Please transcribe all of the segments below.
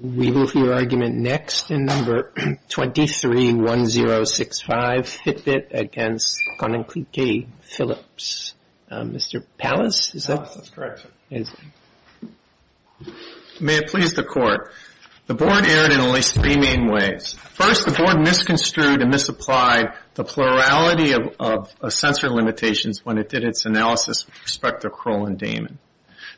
We will hear argument next in No. 23-1065, Fitbit v. Koninklijke Philips. Mr. Pallas, is that correct? That's correct, sir. May it please the Court. The Board erred in at least three main ways. First, the Board misconstrued and misapplied the plurality of sensor limitations when it did its analysis with respect to Kroll and Damon.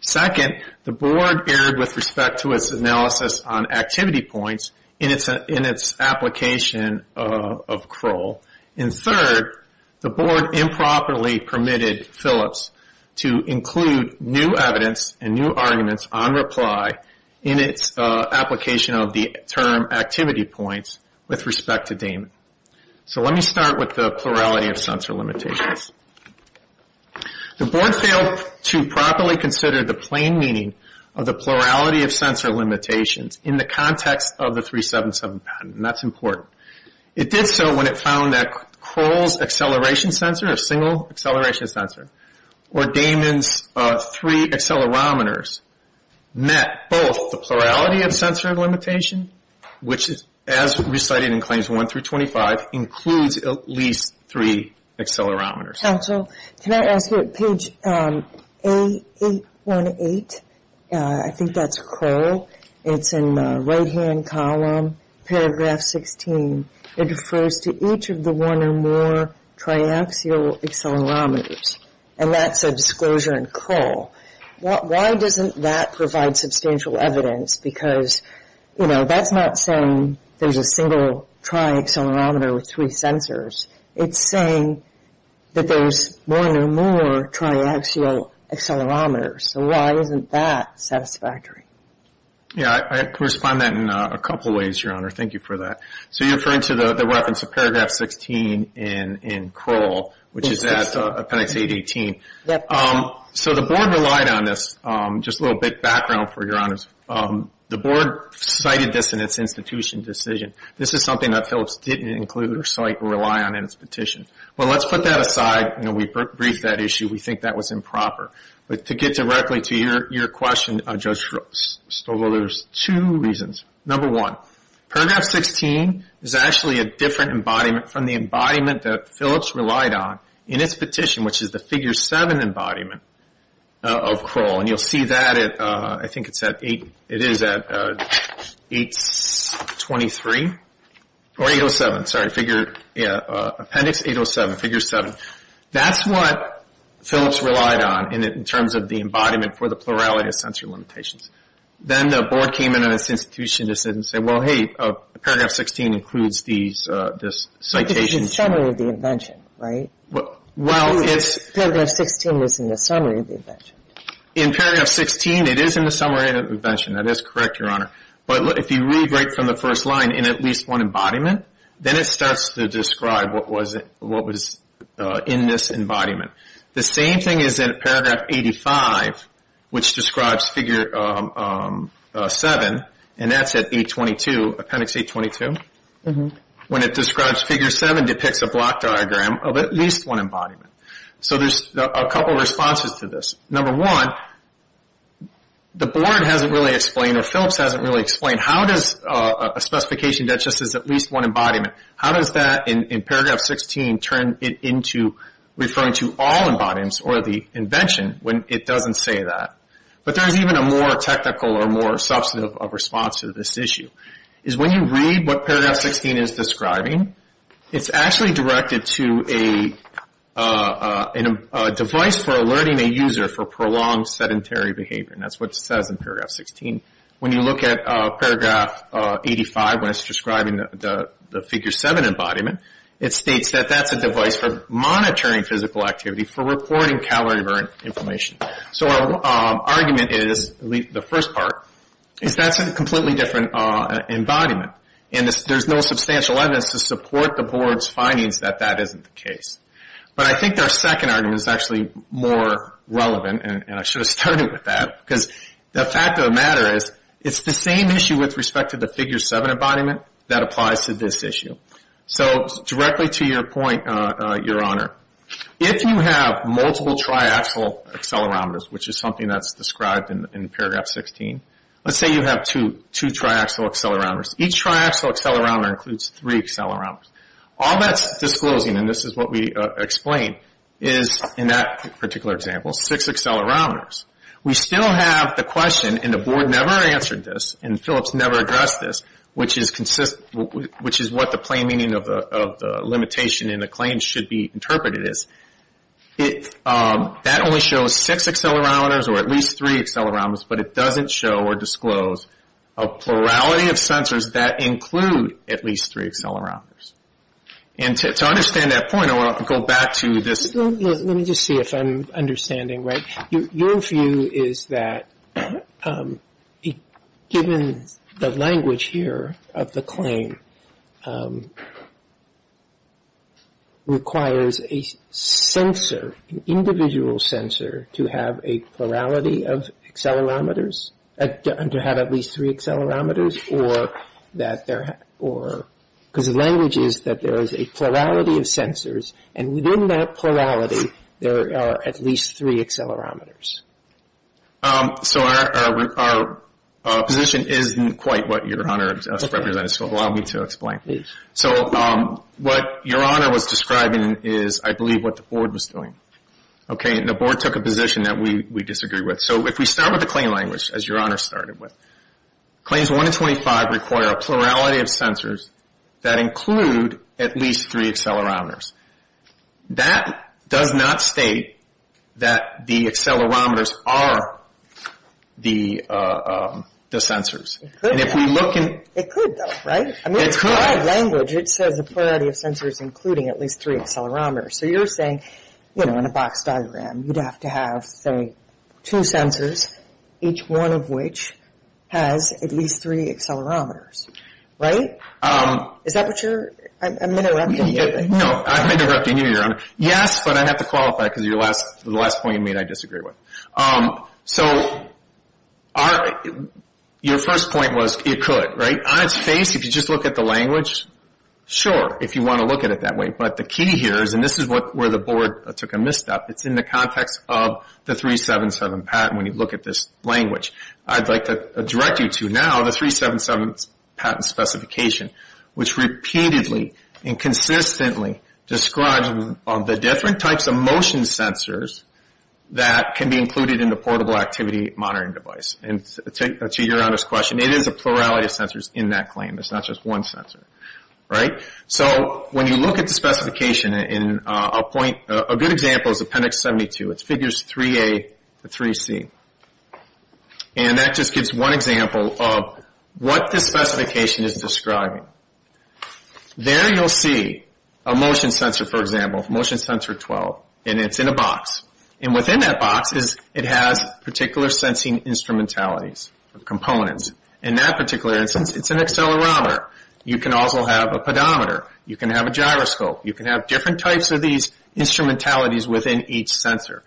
Second, the Board erred with respect to its analysis on activity points in its application of Kroll. And third, the Board improperly permitted Philips to include new evidence and new arguments on reply in its application of the term activity points with respect to Damon. So let me start with the plurality of sensor limitations. The Board failed to properly consider the plain meaning of the plurality of sensor limitations in the context of the 377 patent, and that's important. It did so when it found that Kroll's acceleration sensor, a single acceleration sensor, or Damon's three accelerometers, met both the plurality of sensor limitation, which, as recited in Claims 1-25, includes at least three accelerometers. Counsel, can I ask you, at page 818, I think that's Kroll, it's in the right-hand column, paragraph 16, it refers to each of the one or more triaxial accelerometers, and that's a disclosure in Kroll. Why doesn't that provide substantial evidence? Because, you know, that's not saying there's a single triaccelerometer with three sensors. It's saying that there's one or more triaxial accelerometers. So why isn't that satisfactory? Yeah, I can respond to that in a couple of ways, Your Honor. Thank you for that. So you're referring to the reference to paragraph 16 in Kroll, which is at appendix 818. Yes. So the Board relied on this. Just a little bit of background for you, Your Honor. The Board cited this in its institution decision. This is something that Phillips didn't include or cite or rely on in its petition. Well, let's put that aside. You know, we briefed that issue. We think that was improper. But to get directly to your question, Judge Stovall, there's two reasons. Number one, paragraph 16 is actually a different embodiment from the embodiment that Phillips relied on in its petition, which is the figure 7 embodiment of Kroll. And you'll see that at, I think it's at 823 or 807, sorry, appendix 807, figure 7. That's what Phillips relied on in terms of the embodiment for the plurality of sensory limitations. Then the Board came in on its institution decision and said, well, hey, paragraph 16 includes this citation. In summary of the invention, right? Well, it's – Paragraph 16 was in the summary of the invention. In paragraph 16, it is in the summary of the invention. That is correct, Your Honor. But if you read right from the first line, in at least one embodiment, then it starts to describe what was in this embodiment. The same thing is in paragraph 85, which describes figure 7, and that's at 822, appendix 822. When it describes figure 7, it depicts a block diagram of at least one embodiment. So there's a couple of responses to this. Number one, the Board hasn't really explained, or Phillips hasn't really explained, how does a specification that just says at least one embodiment, how does that in paragraph 16 turn it into referring to all embodiments or the invention when it doesn't say that? But there is even a more technical or more substantive response to this issue. When you read what paragraph 16 is describing, it's actually directed to a device for alerting a user for prolonged sedentary behavior, and that's what it says in paragraph 16. When you look at paragraph 85, when it's describing the figure 7 embodiment, it states that that's a device for monitoring physical activity for reporting calorie-divergent information. So our argument is, at least the first part, is that's a completely different embodiment, and there's no substantial evidence to support the Board's findings that that isn't the case. But I think our second argument is actually more relevant, and I should have started with that, because the fact of the matter is it's the same issue with respect to the figure 7 embodiment that applies to this issue. So directly to your point, Your Honor, if you have multiple triaxial accelerometers, which is something that's described in paragraph 16, let's say you have two triaxial accelerometers. Each triaxial accelerometer includes three accelerometers. All that's disclosing, and this is what we explain, is in that particular example, six accelerometers. We still have the question, and the Board never answered this, and Phillips never addressed this, which is what the plain meaning of the limitation in the claim should be interpreted as. That only shows six accelerometers or at least three accelerometers, but it doesn't show or disclose a plurality of sensors that include at least three accelerometers. And to understand that point, I want to go back to this. Let me just see if I'm understanding right. Your view is that given the language here of the claim requires a sensor, an individual sensor, to have a plurality of accelerometers, to have at least three accelerometers, because the language is that there is a plurality of sensors, and within that plurality there are at least three accelerometers. So our position isn't quite what Your Honor has represented, so allow me to explain. So what Your Honor was describing is, I believe, what the Board was doing. Okay, and the Board took a position that we disagree with. So if we start with the claim language, as Your Honor started with, Claims 1 and 25 require a plurality of sensors that include at least three accelerometers. That does not state that the accelerometers are the sensors. It could, though, right? I mean, it's broad language. It says a plurality of sensors including at least three accelerometers. So you're saying, you know, in a box diagram, you'd have to have, say, two sensors, each one of which has at least three accelerometers, right? Is that what you're – I'm interrupting you. No, I'm interrupting you, Your Honor. Yes, but I have to qualify because of the last point you made I disagreed with. So your first point was it could, right? On its face, if you just look at the language, sure, if you want to look at it that way. But the key here is, and this is where the Board took a misstep, it's in the context of the 377 patent when you look at this language. I'd like to direct you to now the 377 patent specification, which repeatedly and consistently describes the different types of motion sensors that can be included in the portable activity monitoring device. And to Your Honor's question, it is a plurality of sensors in that claim. It's not just one sensor, right? So when you look at the specification, a good example is Appendix 72. It's Figures 3A to 3C. And that just gives one example of what this specification is describing. There you'll see a motion sensor, for example, Motion Sensor 12, and it's in a box. And within that box, it has particular sensing instrumentalities, components. In that particular instance, it's an accelerometer. You can also have a pedometer. You can have a gyroscope. You can have different types of these instrumentalities within each sensor.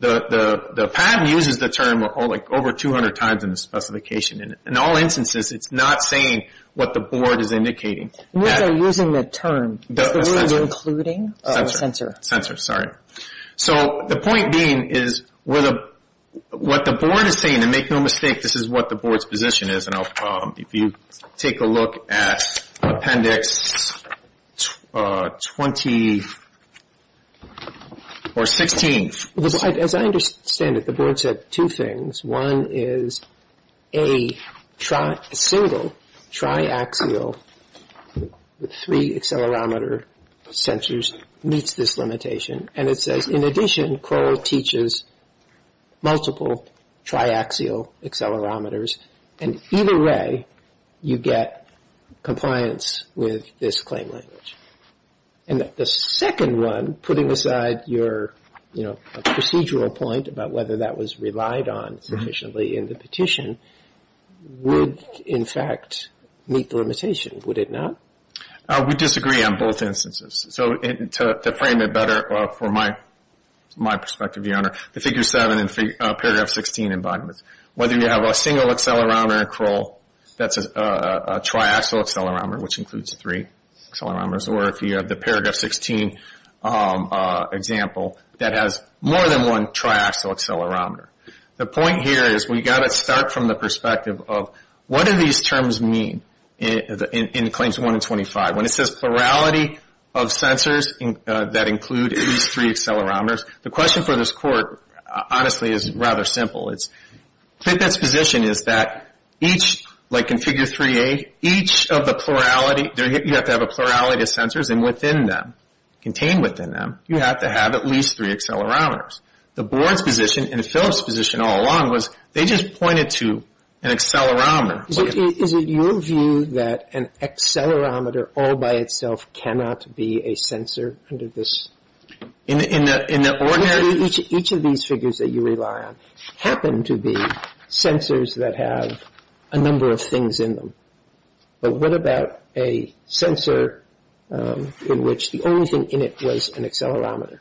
The patent uses the term over 200 times in the specification. In all instances, it's not saying what the Board is indicating. What they're using the term. Is the word including? Sensor. Sensor, sorry. So the point being is what the Board is saying, and make no mistake, this is what the Board's position is. If you take a look at Appendix 20 or 16. As I understand it, the Board said two things. One is a single triaxial with three accelerometer sensors meets this limitation. And it says, in addition, Kroll teaches multiple triaxial accelerometers. And either way, you get compliance with this claim language. And the second one, putting aside your, you know, procedural point about whether that was relied on sufficiently in the petition, would, in fact, meet the limitation. Would it not? We disagree on both instances. So to frame it better from my perspective, Your Honor, the Figure 7 and Paragraph 16 embodiments, whether you have a single accelerometer in Kroll that's a triaxial accelerometer, which includes three accelerometers, or if you have the Paragraph 16 example that has more than one triaxial accelerometer. The point here is we've got to start from the perspective of what do these terms mean in Claims 1 and 25? When it says plurality of sensors that include at least three accelerometers, the question for this Court, honestly, is rather simple. It's Clinket's position is that each, like in Figure 3A, each of the plurality, you have to have a plurality of sensors. And within them, contained within them, you have to have at least three accelerometers. The Board's position and the Phillips' position all along was they just pointed to an accelerometer. Is it your view that an accelerometer all by itself cannot be a sensor under this? Each of these figures that you rely on happen to be sensors that have a number of things in them. But what about a sensor in which the only thing in it was an accelerometer?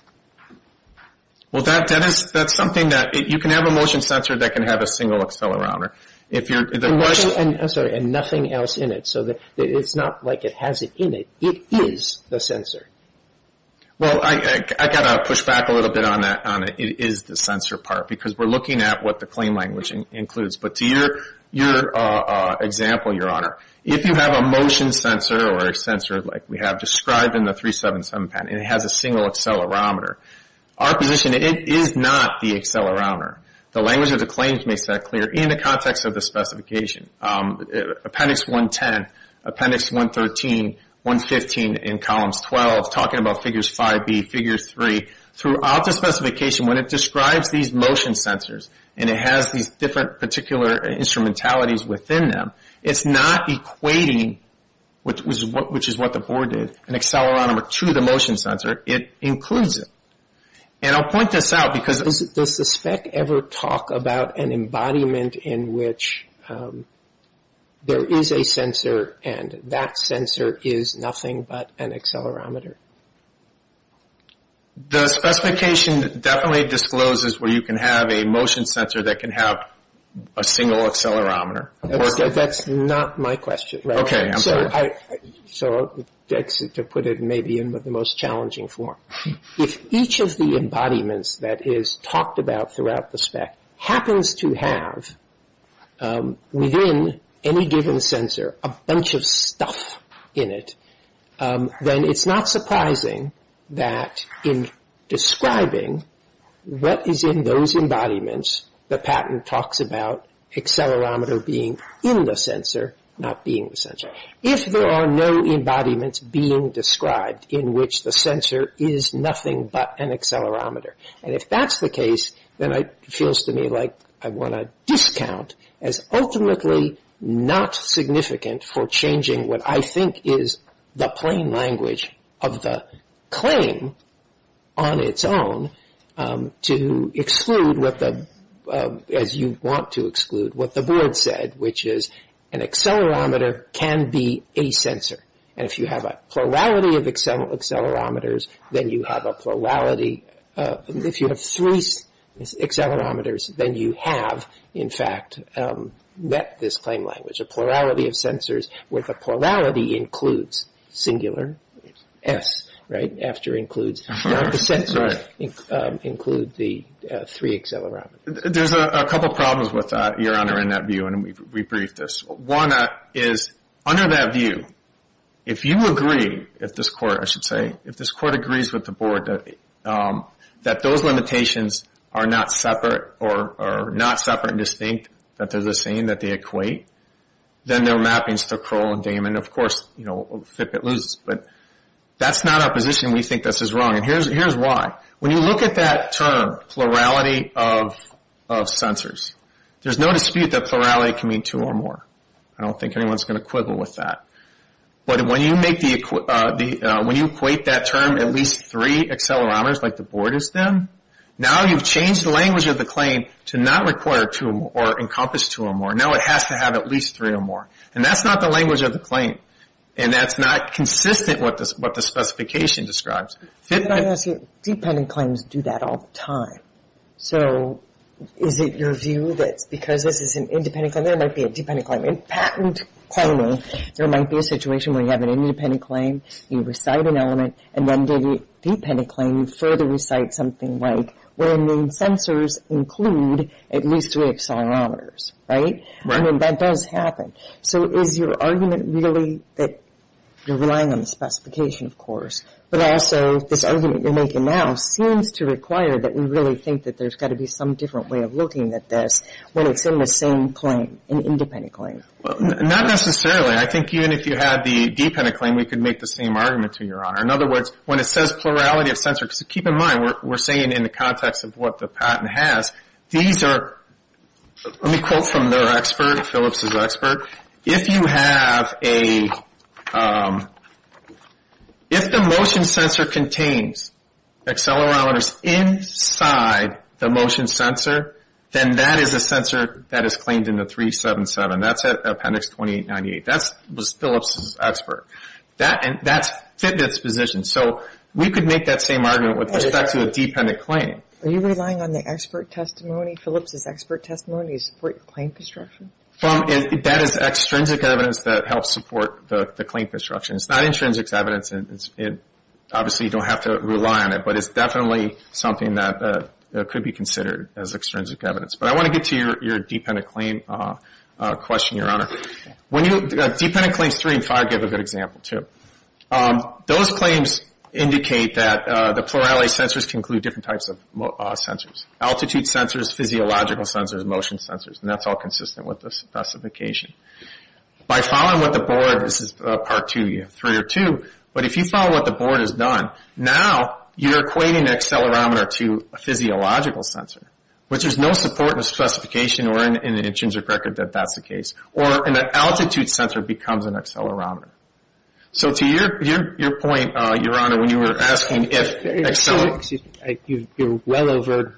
Well, that's something that you can have a motion sensor that can have a single accelerometer. And nothing else in it, so it's not like it has it in it. It is the sensor. Well, I've got to push back a little bit on that. It is the sensor part because we're looking at what the claim language includes. But to your example, Your Honor, if you have a motion sensor or a sensor like we have described in the 377 patent and it has a single accelerometer, our position is it is not the accelerometer. The language of the claims makes that clear in the context of the specification. Appendix 110, Appendix 113, 115 in Columns 12, talking about Figures 5B, Figure 3, throughout the specification when it describes these motion sensors and it has these different particular instrumentalities within them, it's not equating, which is what the board did, an accelerometer to the motion sensor. It includes it. And I'll point this out. Does the spec ever talk about an embodiment in which there is a sensor and that sensor is nothing but an accelerometer? The specification definitely discloses where you can have a motion sensor that can have a single accelerometer. That's not my question. Okay, I'm sorry. So to put it maybe in the most challenging form. If each of the embodiments that is talked about throughout the spec happens to have, within any given sensor, a bunch of stuff in it, then it's not surprising that in describing what is in those embodiments, the patent talks about accelerometer being in the sensor, not being the sensor. But if there are no embodiments being described in which the sensor is nothing but an accelerometer, and if that's the case, then it feels to me like I want to discount as ultimately not significant for changing what I think is the plain language of the claim on its own to exclude as you want to exclude what the board said, which is an accelerometer can be a sensor. And if you have a plurality of accelerometers, then you have a plurality. If you have three accelerometers, then you have, in fact, met this plain language. A plurality of sensors with a plurality includes singular S, right, after includes. The sensors include the three accelerometers. There's a couple problems with that, Your Honor, in that view, and we briefed this. One is, under that view, if you agree, if this court, I should say, if this court agrees with the board that those limitations are not separate or not separate and distinct, that they're the same, that they equate, then their mappings to Kroll and Damon, of course, you know, flip it loose, but that's not our position. We think this is wrong, and here's why. When you look at that term, plurality of sensors, there's no dispute that plurality can mean two or more. I don't think anyone's going to quibble with that. But when you equate that term at least three accelerometers like the board has done, now you've changed the language of the claim to not require two or more or encompass two or more. Now it has to have at least three or more, and that's not the language of the claim, and that's not consistent with what the specification describes. Dependent claims do that all the time. So is it your view that because this is an independent claim, there might be a dependent claim. In patent claiming, there might be a situation where you have an independent claim, you recite an element, and then get a dependent claim, you further recite something like where main sensors include at least three accelerometers, right? I mean, that does happen. So is your argument really that you're relying on the specification, of course, but also this argument you're making now seems to require that we really think that there's got to be some different way of looking at this when it's in the same claim, an independent claim. Well, not necessarily. I think even if you had the dependent claim, we could make the same argument to Your Honor. In other words, when it says plurality of sensors, keep in mind we're saying in the context of what the patent has, these are, let me quote from their expert, Phillips' expert, if you have a, if the motion sensor contains accelerometers inside the motion sensor, then that is a sensor that is claimed in the 377. That's Appendix 2898. That was Phillips' expert. That's Fitbit's position. So we could make that same argument with respect to a dependent claim. Are you relying on the expert testimony, Phillips' expert testimony to support your claim construction? That is extrinsic evidence that helps support the claim construction. It's not intrinsic evidence. Obviously, you don't have to rely on it, but it's definitely something that could be considered as extrinsic evidence. But I want to get to your dependent claim question, Your Honor. When you, dependent claims three and five give a good example too. Those claims indicate that the plurality of sensors can include different types of sensors, altitude sensors, physiological sensors, motion sensors, and that's all consistent with the specification. By following what the board, this is part two, you have three or two, but if you follow what the board has done, now you're equating an accelerometer to a physiological sensor, which there's no support in the specification or in the intrinsic record that that's the case, or an altitude sensor becomes an accelerometer. So to your point, Your Honor, when you were asking if accelerometers. You're well over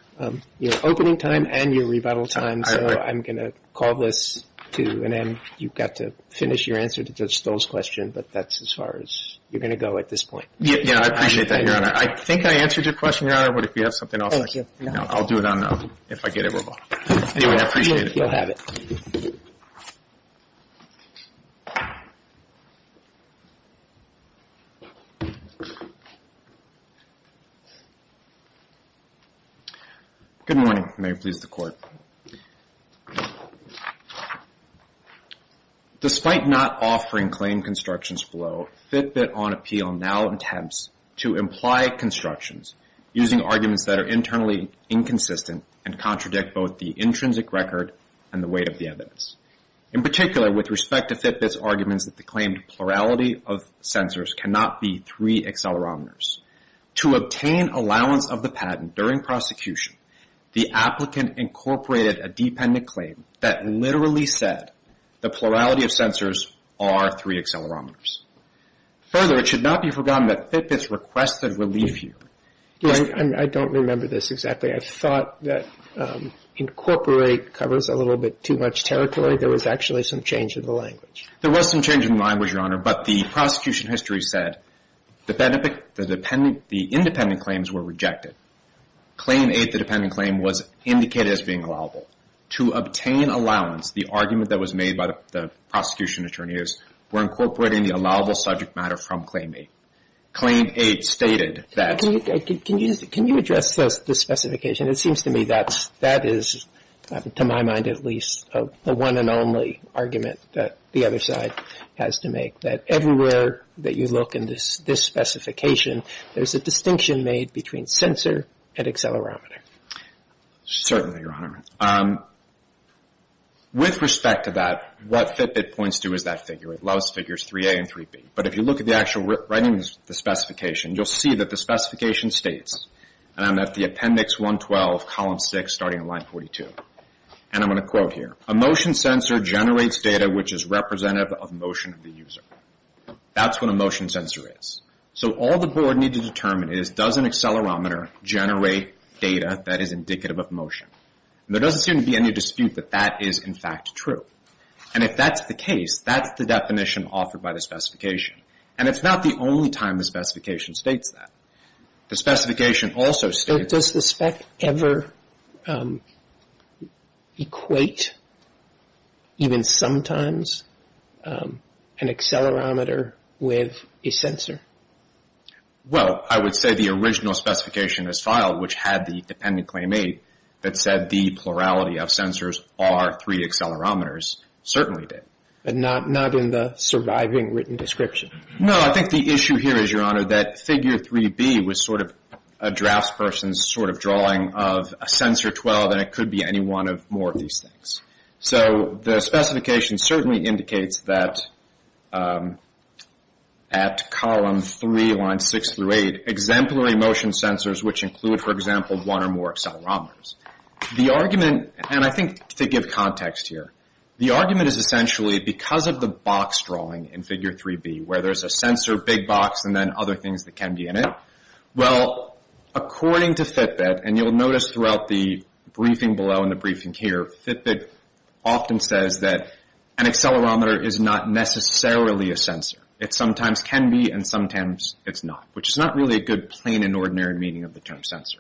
your opening time and your rebuttal time, so I'm going to call this to an end. You've got to finish your answer to Judge Stoll's question, but that's as far as you're going to go at this point. Yeah, I appreciate that, Your Honor. I think I answered your question, Your Honor, but if you have something else. Thank you. I'll do it on, if I get it wrong. Anyway, I appreciate it. You'll have it. Thank you. Good morning. May it please the Court. Despite not offering claim constructions below, Fitbit on appeal now attempts to imply constructions using arguments that are internally inconsistent and contradict both the intrinsic record and the weight of the evidence. In particular, with respect to Fitbit's arguments that the claimed plurality of sensors cannot be three accelerometers. To obtain allowance of the patent during prosecution, the applicant incorporated a dependent claim that literally said the plurality of sensors are three accelerometers. Further, it should not be forgotten that Fitbit's requested relief here. I don't remember this exactly. I thought that incorporate covers a little bit too much territory. There was actually some change in the language. There was some change in the language, Your Honor, but the prosecution history said the independent claims were rejected. Claim eight, the dependent claim, was indicated as being allowable. To obtain allowance, the argument that was made by the prosecution attorneys were incorporating the allowable subject matter from claim eight. Claim eight stated that. Can you address this specification? It seems to me that that is, to my mind at least, a one and only argument that the other side has to make, that everywhere that you look in this specification, there's a distinction made between sensor and accelerometer. Certainly, Your Honor. With respect to that, what Fitbit points to is that figure. It allows figures 3A and 3B. But if you look at the actual writing of the specification, you'll see that the specification states, and I'm at the appendix 112, column 6, starting at line 42, and I'm going to quote here, a motion sensor generates data which is representative of motion of the user. That's what a motion sensor is. So all the board needs to determine is, does an accelerometer generate data that is indicative of motion? There doesn't seem to be any dispute that that is, in fact, true. And if that's the case, that's the definition offered by the specification. And it's not the only time the specification states that. The specification also states... But does the spec ever equate, even sometimes, an accelerometer with a sensor? Well, I would say the original specification is filed, which had the dependent claim made that said the plurality of sensors are three accelerometers certainly did. But not in the surviving written description. No, I think the issue here is, Your Honor, that figure 3B was sort of a draftsperson's sort of drawing of a sensor 12, and it could be any one of more of these things. So the specification certainly indicates that at column 3, line 6 through 8, exemplary motion sensors, which include, for example, one or more accelerometers. The argument, and I think to give context here, the argument is essentially because of the box drawing in figure 3B, where there's a sensor, big box, and then other things that can be in it. Well, according to Fitbit, and you'll notice throughout the briefing below and the briefing here, Fitbit often says that an accelerometer is not necessarily a sensor. It sometimes can be, and sometimes it's not, which is not really a good, plain and ordinary meaning of the term sensor.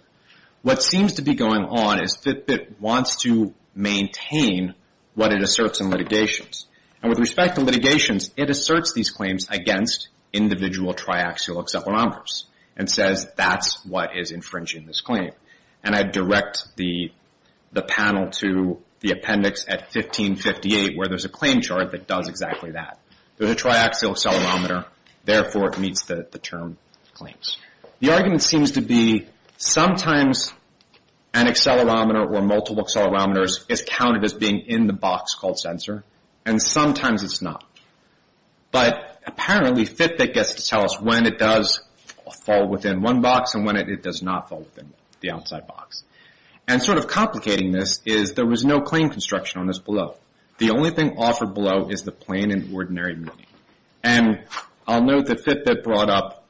What seems to be going on is Fitbit wants to maintain what it asserts in litigations. And with respect to litigations, it asserts these claims against individual triaxial accelerometers and says that's what is infringing this claim. And I direct the panel to the appendix at 1558, where there's a claim chart that does exactly that. There's a triaxial accelerometer, therefore it meets the term claims. The argument seems to be sometimes an accelerometer or multiple accelerometers is counted as being in the box called sensor, and sometimes it's not. But apparently Fitbit gets to tell us when it does fall within one box and when it does not fall within the outside box. And sort of complicating this is there was no claim construction on this below. The only thing offered below is the plain and ordinary meaning. And I'll note that Fitbit brought up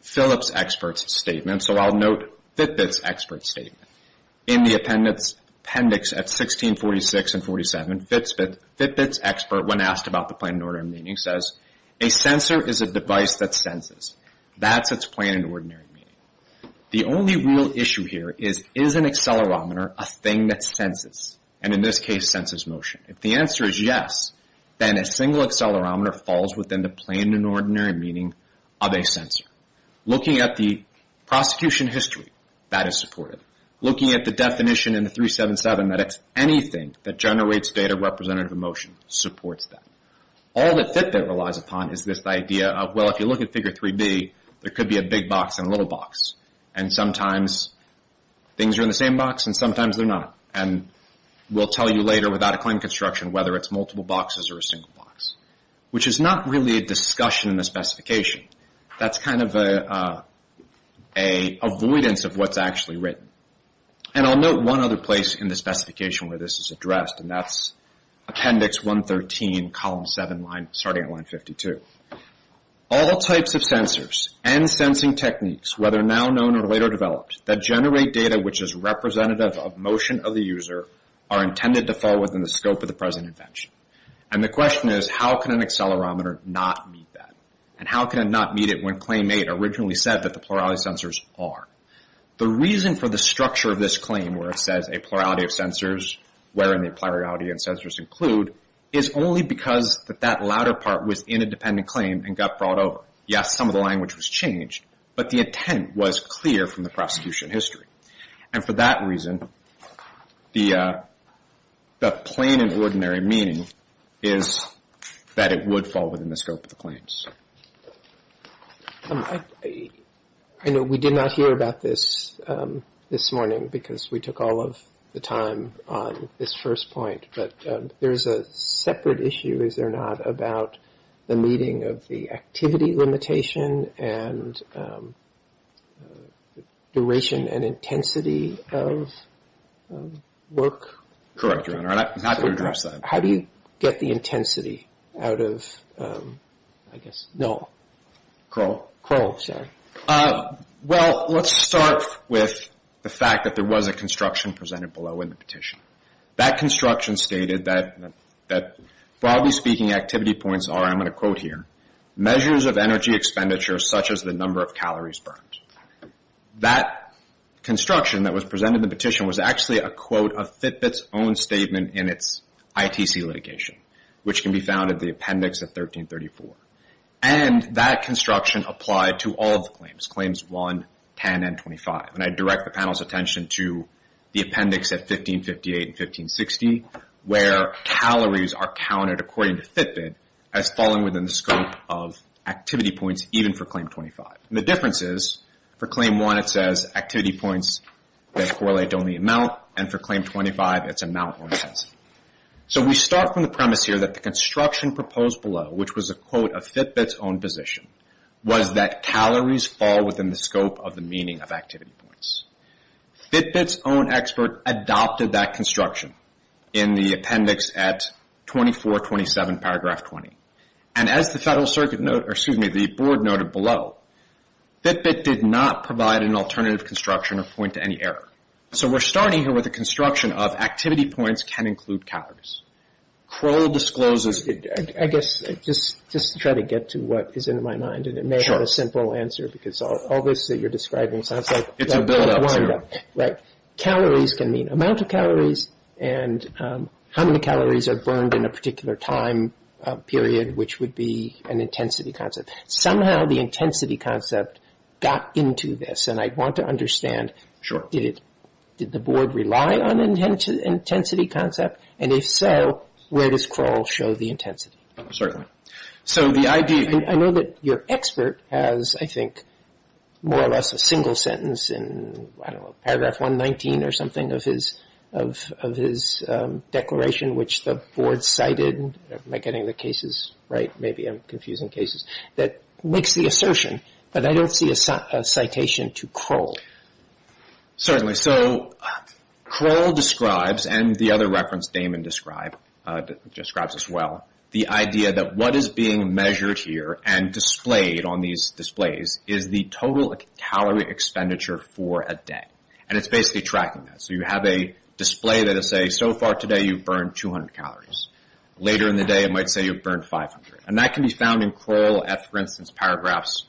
Phillip's expert's statement, so I'll note Fitbit's expert's statement. In the appendix at 1646 and 1647, Fitbit's expert, when asked about the plain and ordinary meaning, says, a sensor is a device that senses. That's its plain and ordinary meaning. The only real issue here is, is an accelerometer a thing that senses? And in this case, senses motion. If the answer is yes, then a single accelerometer falls within the plain and ordinary meaning of a sensor. Looking at the prosecution history, that is supported. Looking at the definition in the 377, that it's anything that generates data representative of motion supports that. All that Fitbit relies upon is this idea of, well, if you look at Figure 3B, there could be a big box and a little box. And sometimes things are in the same box and sometimes they're not. And we'll tell you later without a claim of construction whether it's multiple boxes or a single box, which is not really a discussion in the specification. That's kind of an avoidance of what's actually written. And I'll note one other place in the specification where this is addressed, and that's appendix 113, column 7, starting at line 52. All types of sensors and sensing techniques, whether now known or later developed, that generate data which is representative of motion of the user are intended to fall within the scope of the present invention. And the question is, how can an accelerometer not meet that? And how can it not meet it when Claim 8 originally said that the plurality of sensors are? The reason for the structure of this claim where it says a plurality of sensors, wherein the plurality of sensors include, is only because that that latter part was in a dependent claim and got brought over. Yes, some of the language was changed, but the intent was clear from the prosecution history. And for that reason, the plain and ordinary meaning is that it would fall within the scope of the claims. I know we did not hear about this this morning because we took all of the time on this first point, but there's a separate issue, is there not, about the meeting of the activity limitation and duration and intensity of work? Correct, Your Honor, and I'm happy to address that. How do you get the intensity out of, I guess, null? Curl. Curl, sorry. Well, let's start with the fact that there was a construction presented below in the petition. That construction stated that, broadly speaking, activity points are, I'm going to quote here, measures of energy expenditure such as the number of calories burned. That construction that was presented in the petition was actually a quote of Fitbit's own statement in its ITC litigation, which can be found in the appendix at 1334. And that construction applied to all of the claims, claims 1, 10, and 25. And I direct the panel's attention to the appendix at 1558 and 1560, where calories are counted, according to Fitbit, as falling within the scope of activity points even for claim 25. And the difference is for claim 1 it says activity points that correlate to only amount, and for claim 25 it's amount or intensity. So we start from the premise here that the construction proposed below, which was a quote of Fitbit's own position, was that calories fall within the scope of the meaning of activity points. Fitbit's own expert adopted that construction in the appendix at 2427 paragraph 20. And as the board noted below, Fitbit did not provide an alternative construction or point to any error. So we're starting here with a construction of activity points can include calories. Crowe discloses- I guess just to try to get to what is in my mind, and it may have a simple answer because all this that you're describing sounds like- It's a buildup. Right. Calories can mean amount of calories and how many calories are burned in a particular time period, which would be an intensity concept. Somehow the intensity concept got into this, and I want to understand- Sure. Did the board rely on intensity concept? And if so, where does Crowe show the intensity? Certainly. So the idea- I know that your expert has, I think, more or less a single sentence in, I don't know, paragraph 119 or something of his declaration, which the board cited- am I getting the cases right? Maybe I'm confusing cases- that makes the assertion, but I don't see a citation to Crowe. Certainly. So Crowe describes, and the other reference Damon describes as well, the idea that what is being measured here and displayed on these displays is the total calorie expenditure for a day. And it's basically tracking that. So you have a display that will say, so far today you've burned 200 calories. Later in the day it might say you've burned 500. And that can be found in Crowe, for instance, paragraphs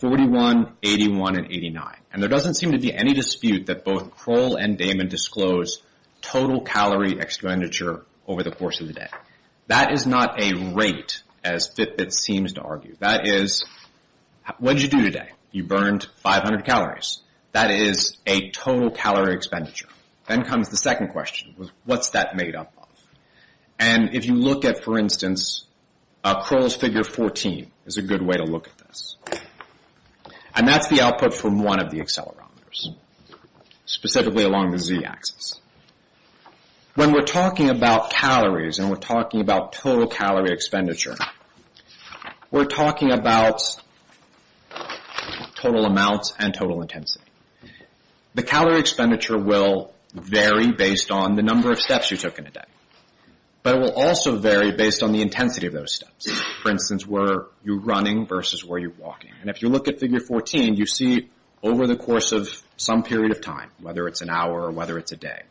41, 81, and 89. And there doesn't seem to be any dispute that both Crowe and Damon disclose total calorie expenditure over the course of the day. That is not a rate, as Fitbit seems to argue. That is, what did you do today? You burned 500 calories. That is a total calorie expenditure. Then comes the second question, what's that made up of? And if you look at, for instance, Crowe's figure 14 is a good way to look at this. And that's the output from one of the accelerometers, specifically along the Z axis. When we're talking about calories and we're talking about total calorie expenditure, we're talking about total amounts and total intensity. The calorie expenditure will vary based on the number of steps you took in a day. But it will also vary based on the intensity of those steps. For instance, where you're running versus where you're walking. And if you look at figure 14, you see over the course of some period of time, whether it's an hour or whether it's a day,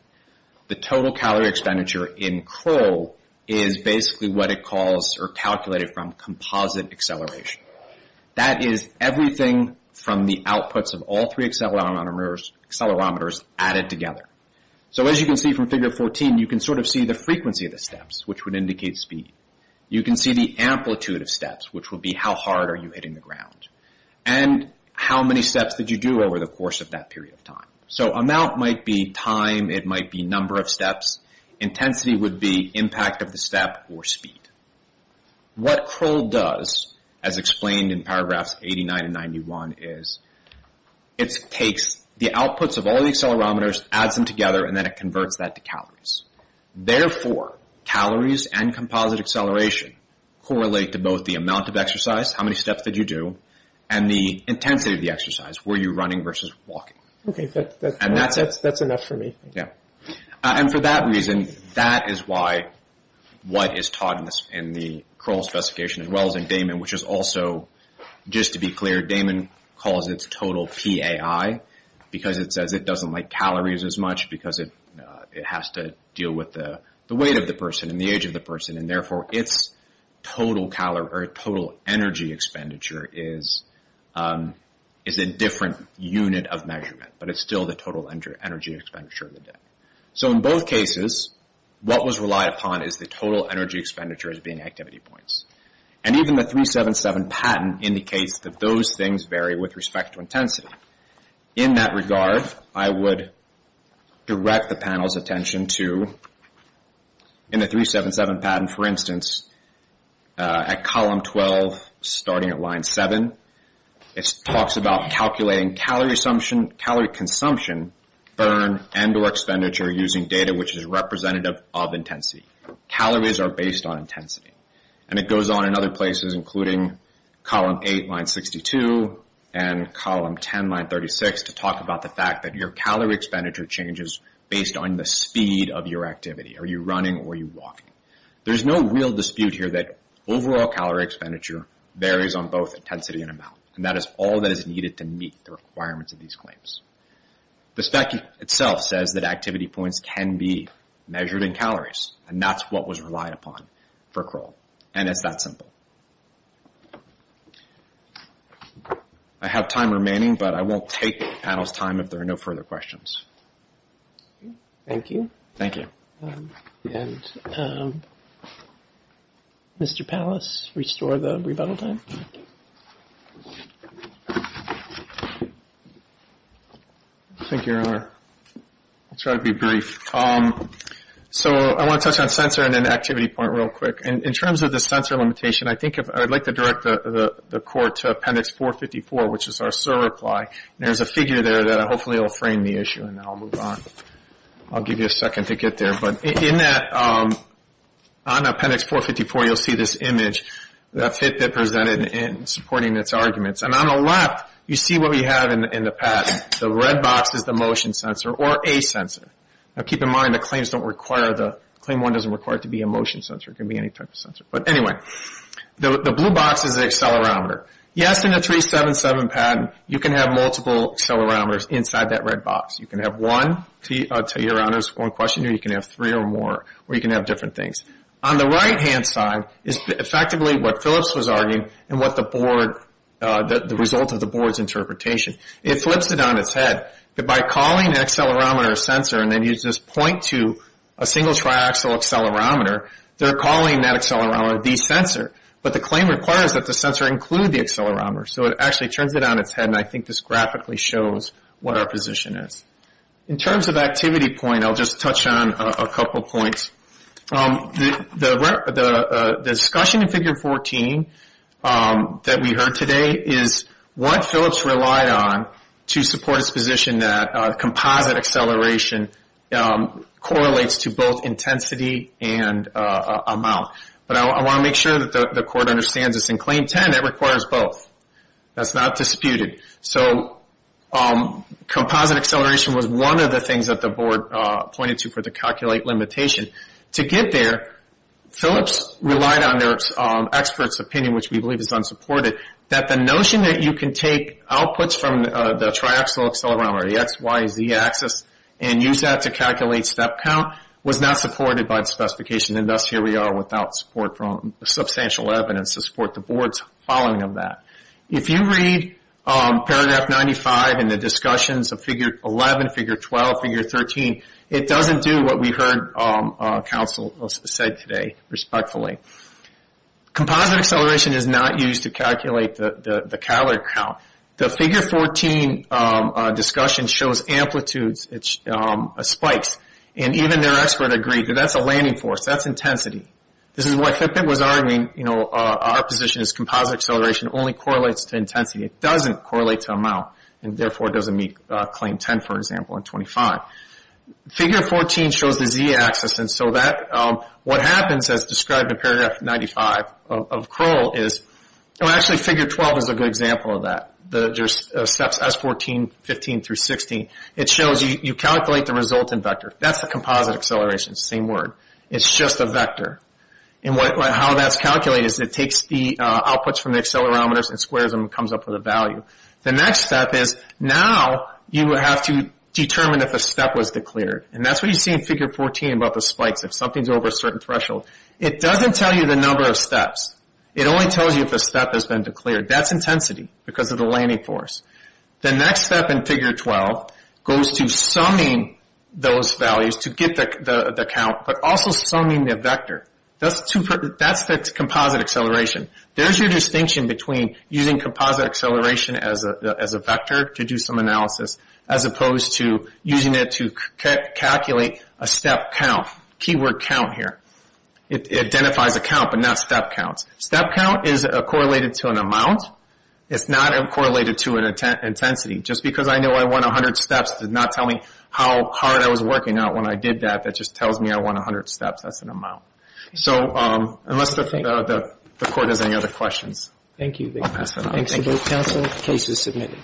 the total calorie expenditure in Crowe is basically what it calls or calculated from composite acceleration. That is everything from the outputs of all three accelerometers added together. So as you can see from figure 14, you can sort of see the frequency of the steps, which would indicate speed. You can see the amplitude of steps, which would be how hard are you hitting the ground. And how many steps did you do over the course of that period of time. So amount might be time. It might be number of steps. Intensity would be impact of the step or speed. What Crowe does, as explained in paragraphs 89 and 91, is it takes the outputs of all the accelerometers, adds them together, and then it converts that to calories. Therefore, calories and composite acceleration correlate to both the amount of exercise, how many steps did you do, and the intensity of the exercise, where you're running versus walking. Okay, that's enough for me. Yeah. And for that reason, that is why what is taught in the Crowe specification, as well as in Damon, which is also, just to be clear, Damon calls it total PAI, because it says it doesn't like calories as much, because it has to deal with the weight of the person and the age of the person, and therefore its total energy expenditure is a different unit of measurement, but it's still the total energy expenditure of the day. So in both cases, what was relied upon is the total energy expenditure as being activity points. And even the 377 patent indicates that those things vary with respect to intensity. In that regard, I would direct the panel's attention to, in the 377 patent, for instance, at column 12, starting at line 7, it talks about calculating calorie consumption, burn, and or expenditure using data which is representative of intensity. Calories are based on intensity. And it goes on in other places, including column 8, line 62, and column 10, line 36, to talk about the fact that your calorie expenditure changes based on the speed of your activity. Are you running or are you walking? There's no real dispute here that overall calorie expenditure varies on both intensity and amount, and that is all that is needed to meet the requirements of these claims. The spec itself says that activity points can be measured in calories, and that's what was relied upon for Kroll. And it's that simple. I have time remaining, but I won't take the panel's time if there are no further questions. Thank you. Thank you. Mr. Pallas, restore the rebuttal time. Thank you, Erler. I'll try to be brief. So I want to touch on sensor and then activity point real quick. In terms of the sensor limitation, I think I'd like to direct the court to Appendix 454, which is our SIR reply. There's a figure there that hopefully will frame the issue, and then I'll move on. I'll give you a second to get there. But in that, on Appendix 454, you'll see this image that Fitbit presented in supporting its arguments. And on the left, you see what we have in the patent. The red box is the motion sensor or a sensor. Now, keep in mind the claims don't require the – Claim 1 doesn't require it to be a motion sensor. It can be any type of sensor. But anyway, the blue box is an accelerometer. Yes, in a 377 patent, you can have multiple accelerometers inside that red box. You can have one, to your honor's one question, or you can have three or more, or you can have different things. On the right-hand side is effectively what Phillips was arguing and what the board – the result of the board's interpretation. It flips it on its head that by calling an accelerometer a sensor and then uses point to a single triaxial accelerometer, they're calling that accelerometer the sensor. But the claim requires that the sensor include the accelerometer. So it actually turns it on its head, and I think this graphically shows what our position is. In terms of activity point, I'll just touch on a couple points. The discussion in Figure 14 that we heard today is what Phillips relied on to support his position that composite acceleration correlates to both intensity and amount. But I want to make sure that the court understands this. In Claim 10, it requires both. That's not disputed. So composite acceleration was one of the things that the board pointed to for the calculate limitation. To get there, Phillips relied on their expert's opinion, which we believe is unsupported, that the notion that you can take outputs from the triaxial accelerometer, the XYZ axis, and use that to calculate step count was not supported by the specification, and thus here we are without support from substantial evidence to support the board's following of that. If you read Paragraph 95 in the discussions of Figure 11, Figure 12, and Figure 13, it doesn't do what we heard counsel said today, respectfully. Composite acceleration is not used to calculate the calorie count. The Figure 14 discussion shows amplitudes, spikes, and even their expert agreed that that's a landing force. That's intensity. This is what Fitbit was arguing. Our position is composite acceleration only correlates to intensity. It doesn't correlate to amount, and therefore doesn't meet Claim 10, for example, and 25. Figure 14 shows the Z axis, and so what happens as described in Paragraph 95 of Crowell is, actually, Figure 12 is a good example of that. There's steps S14, 15, through 16. It shows you calculate the resultant vector. That's the composite acceleration, same word. It's just a vector, and how that's calculated is it takes the outputs from the accelerometers and squares them and comes up with a value. The next step is now you have to determine if a step was declared, and that's what you see in Figure 14 about the spikes. If something's over a certain threshold, it doesn't tell you the number of steps. It only tells you if a step has been declared. That's intensity because of the landing force. The next step in Figure 12 goes to summing those values to get the count, but also summing the vector. That's the composite acceleration. There's your distinction between using composite acceleration as a vector to do some analysis as opposed to using it to calculate a step count, keyword count here. It identifies a count, but not step counts. Step count is correlated to an amount. It's not correlated to an intensity. Just because I know I want 100 steps does not tell me how hard I was working out when I did that. That just tells me I want 100 steps. That's an amount. So unless the court has any other questions, I'll pass it on. Thank you. Thanks to both counsel. Case is submitted.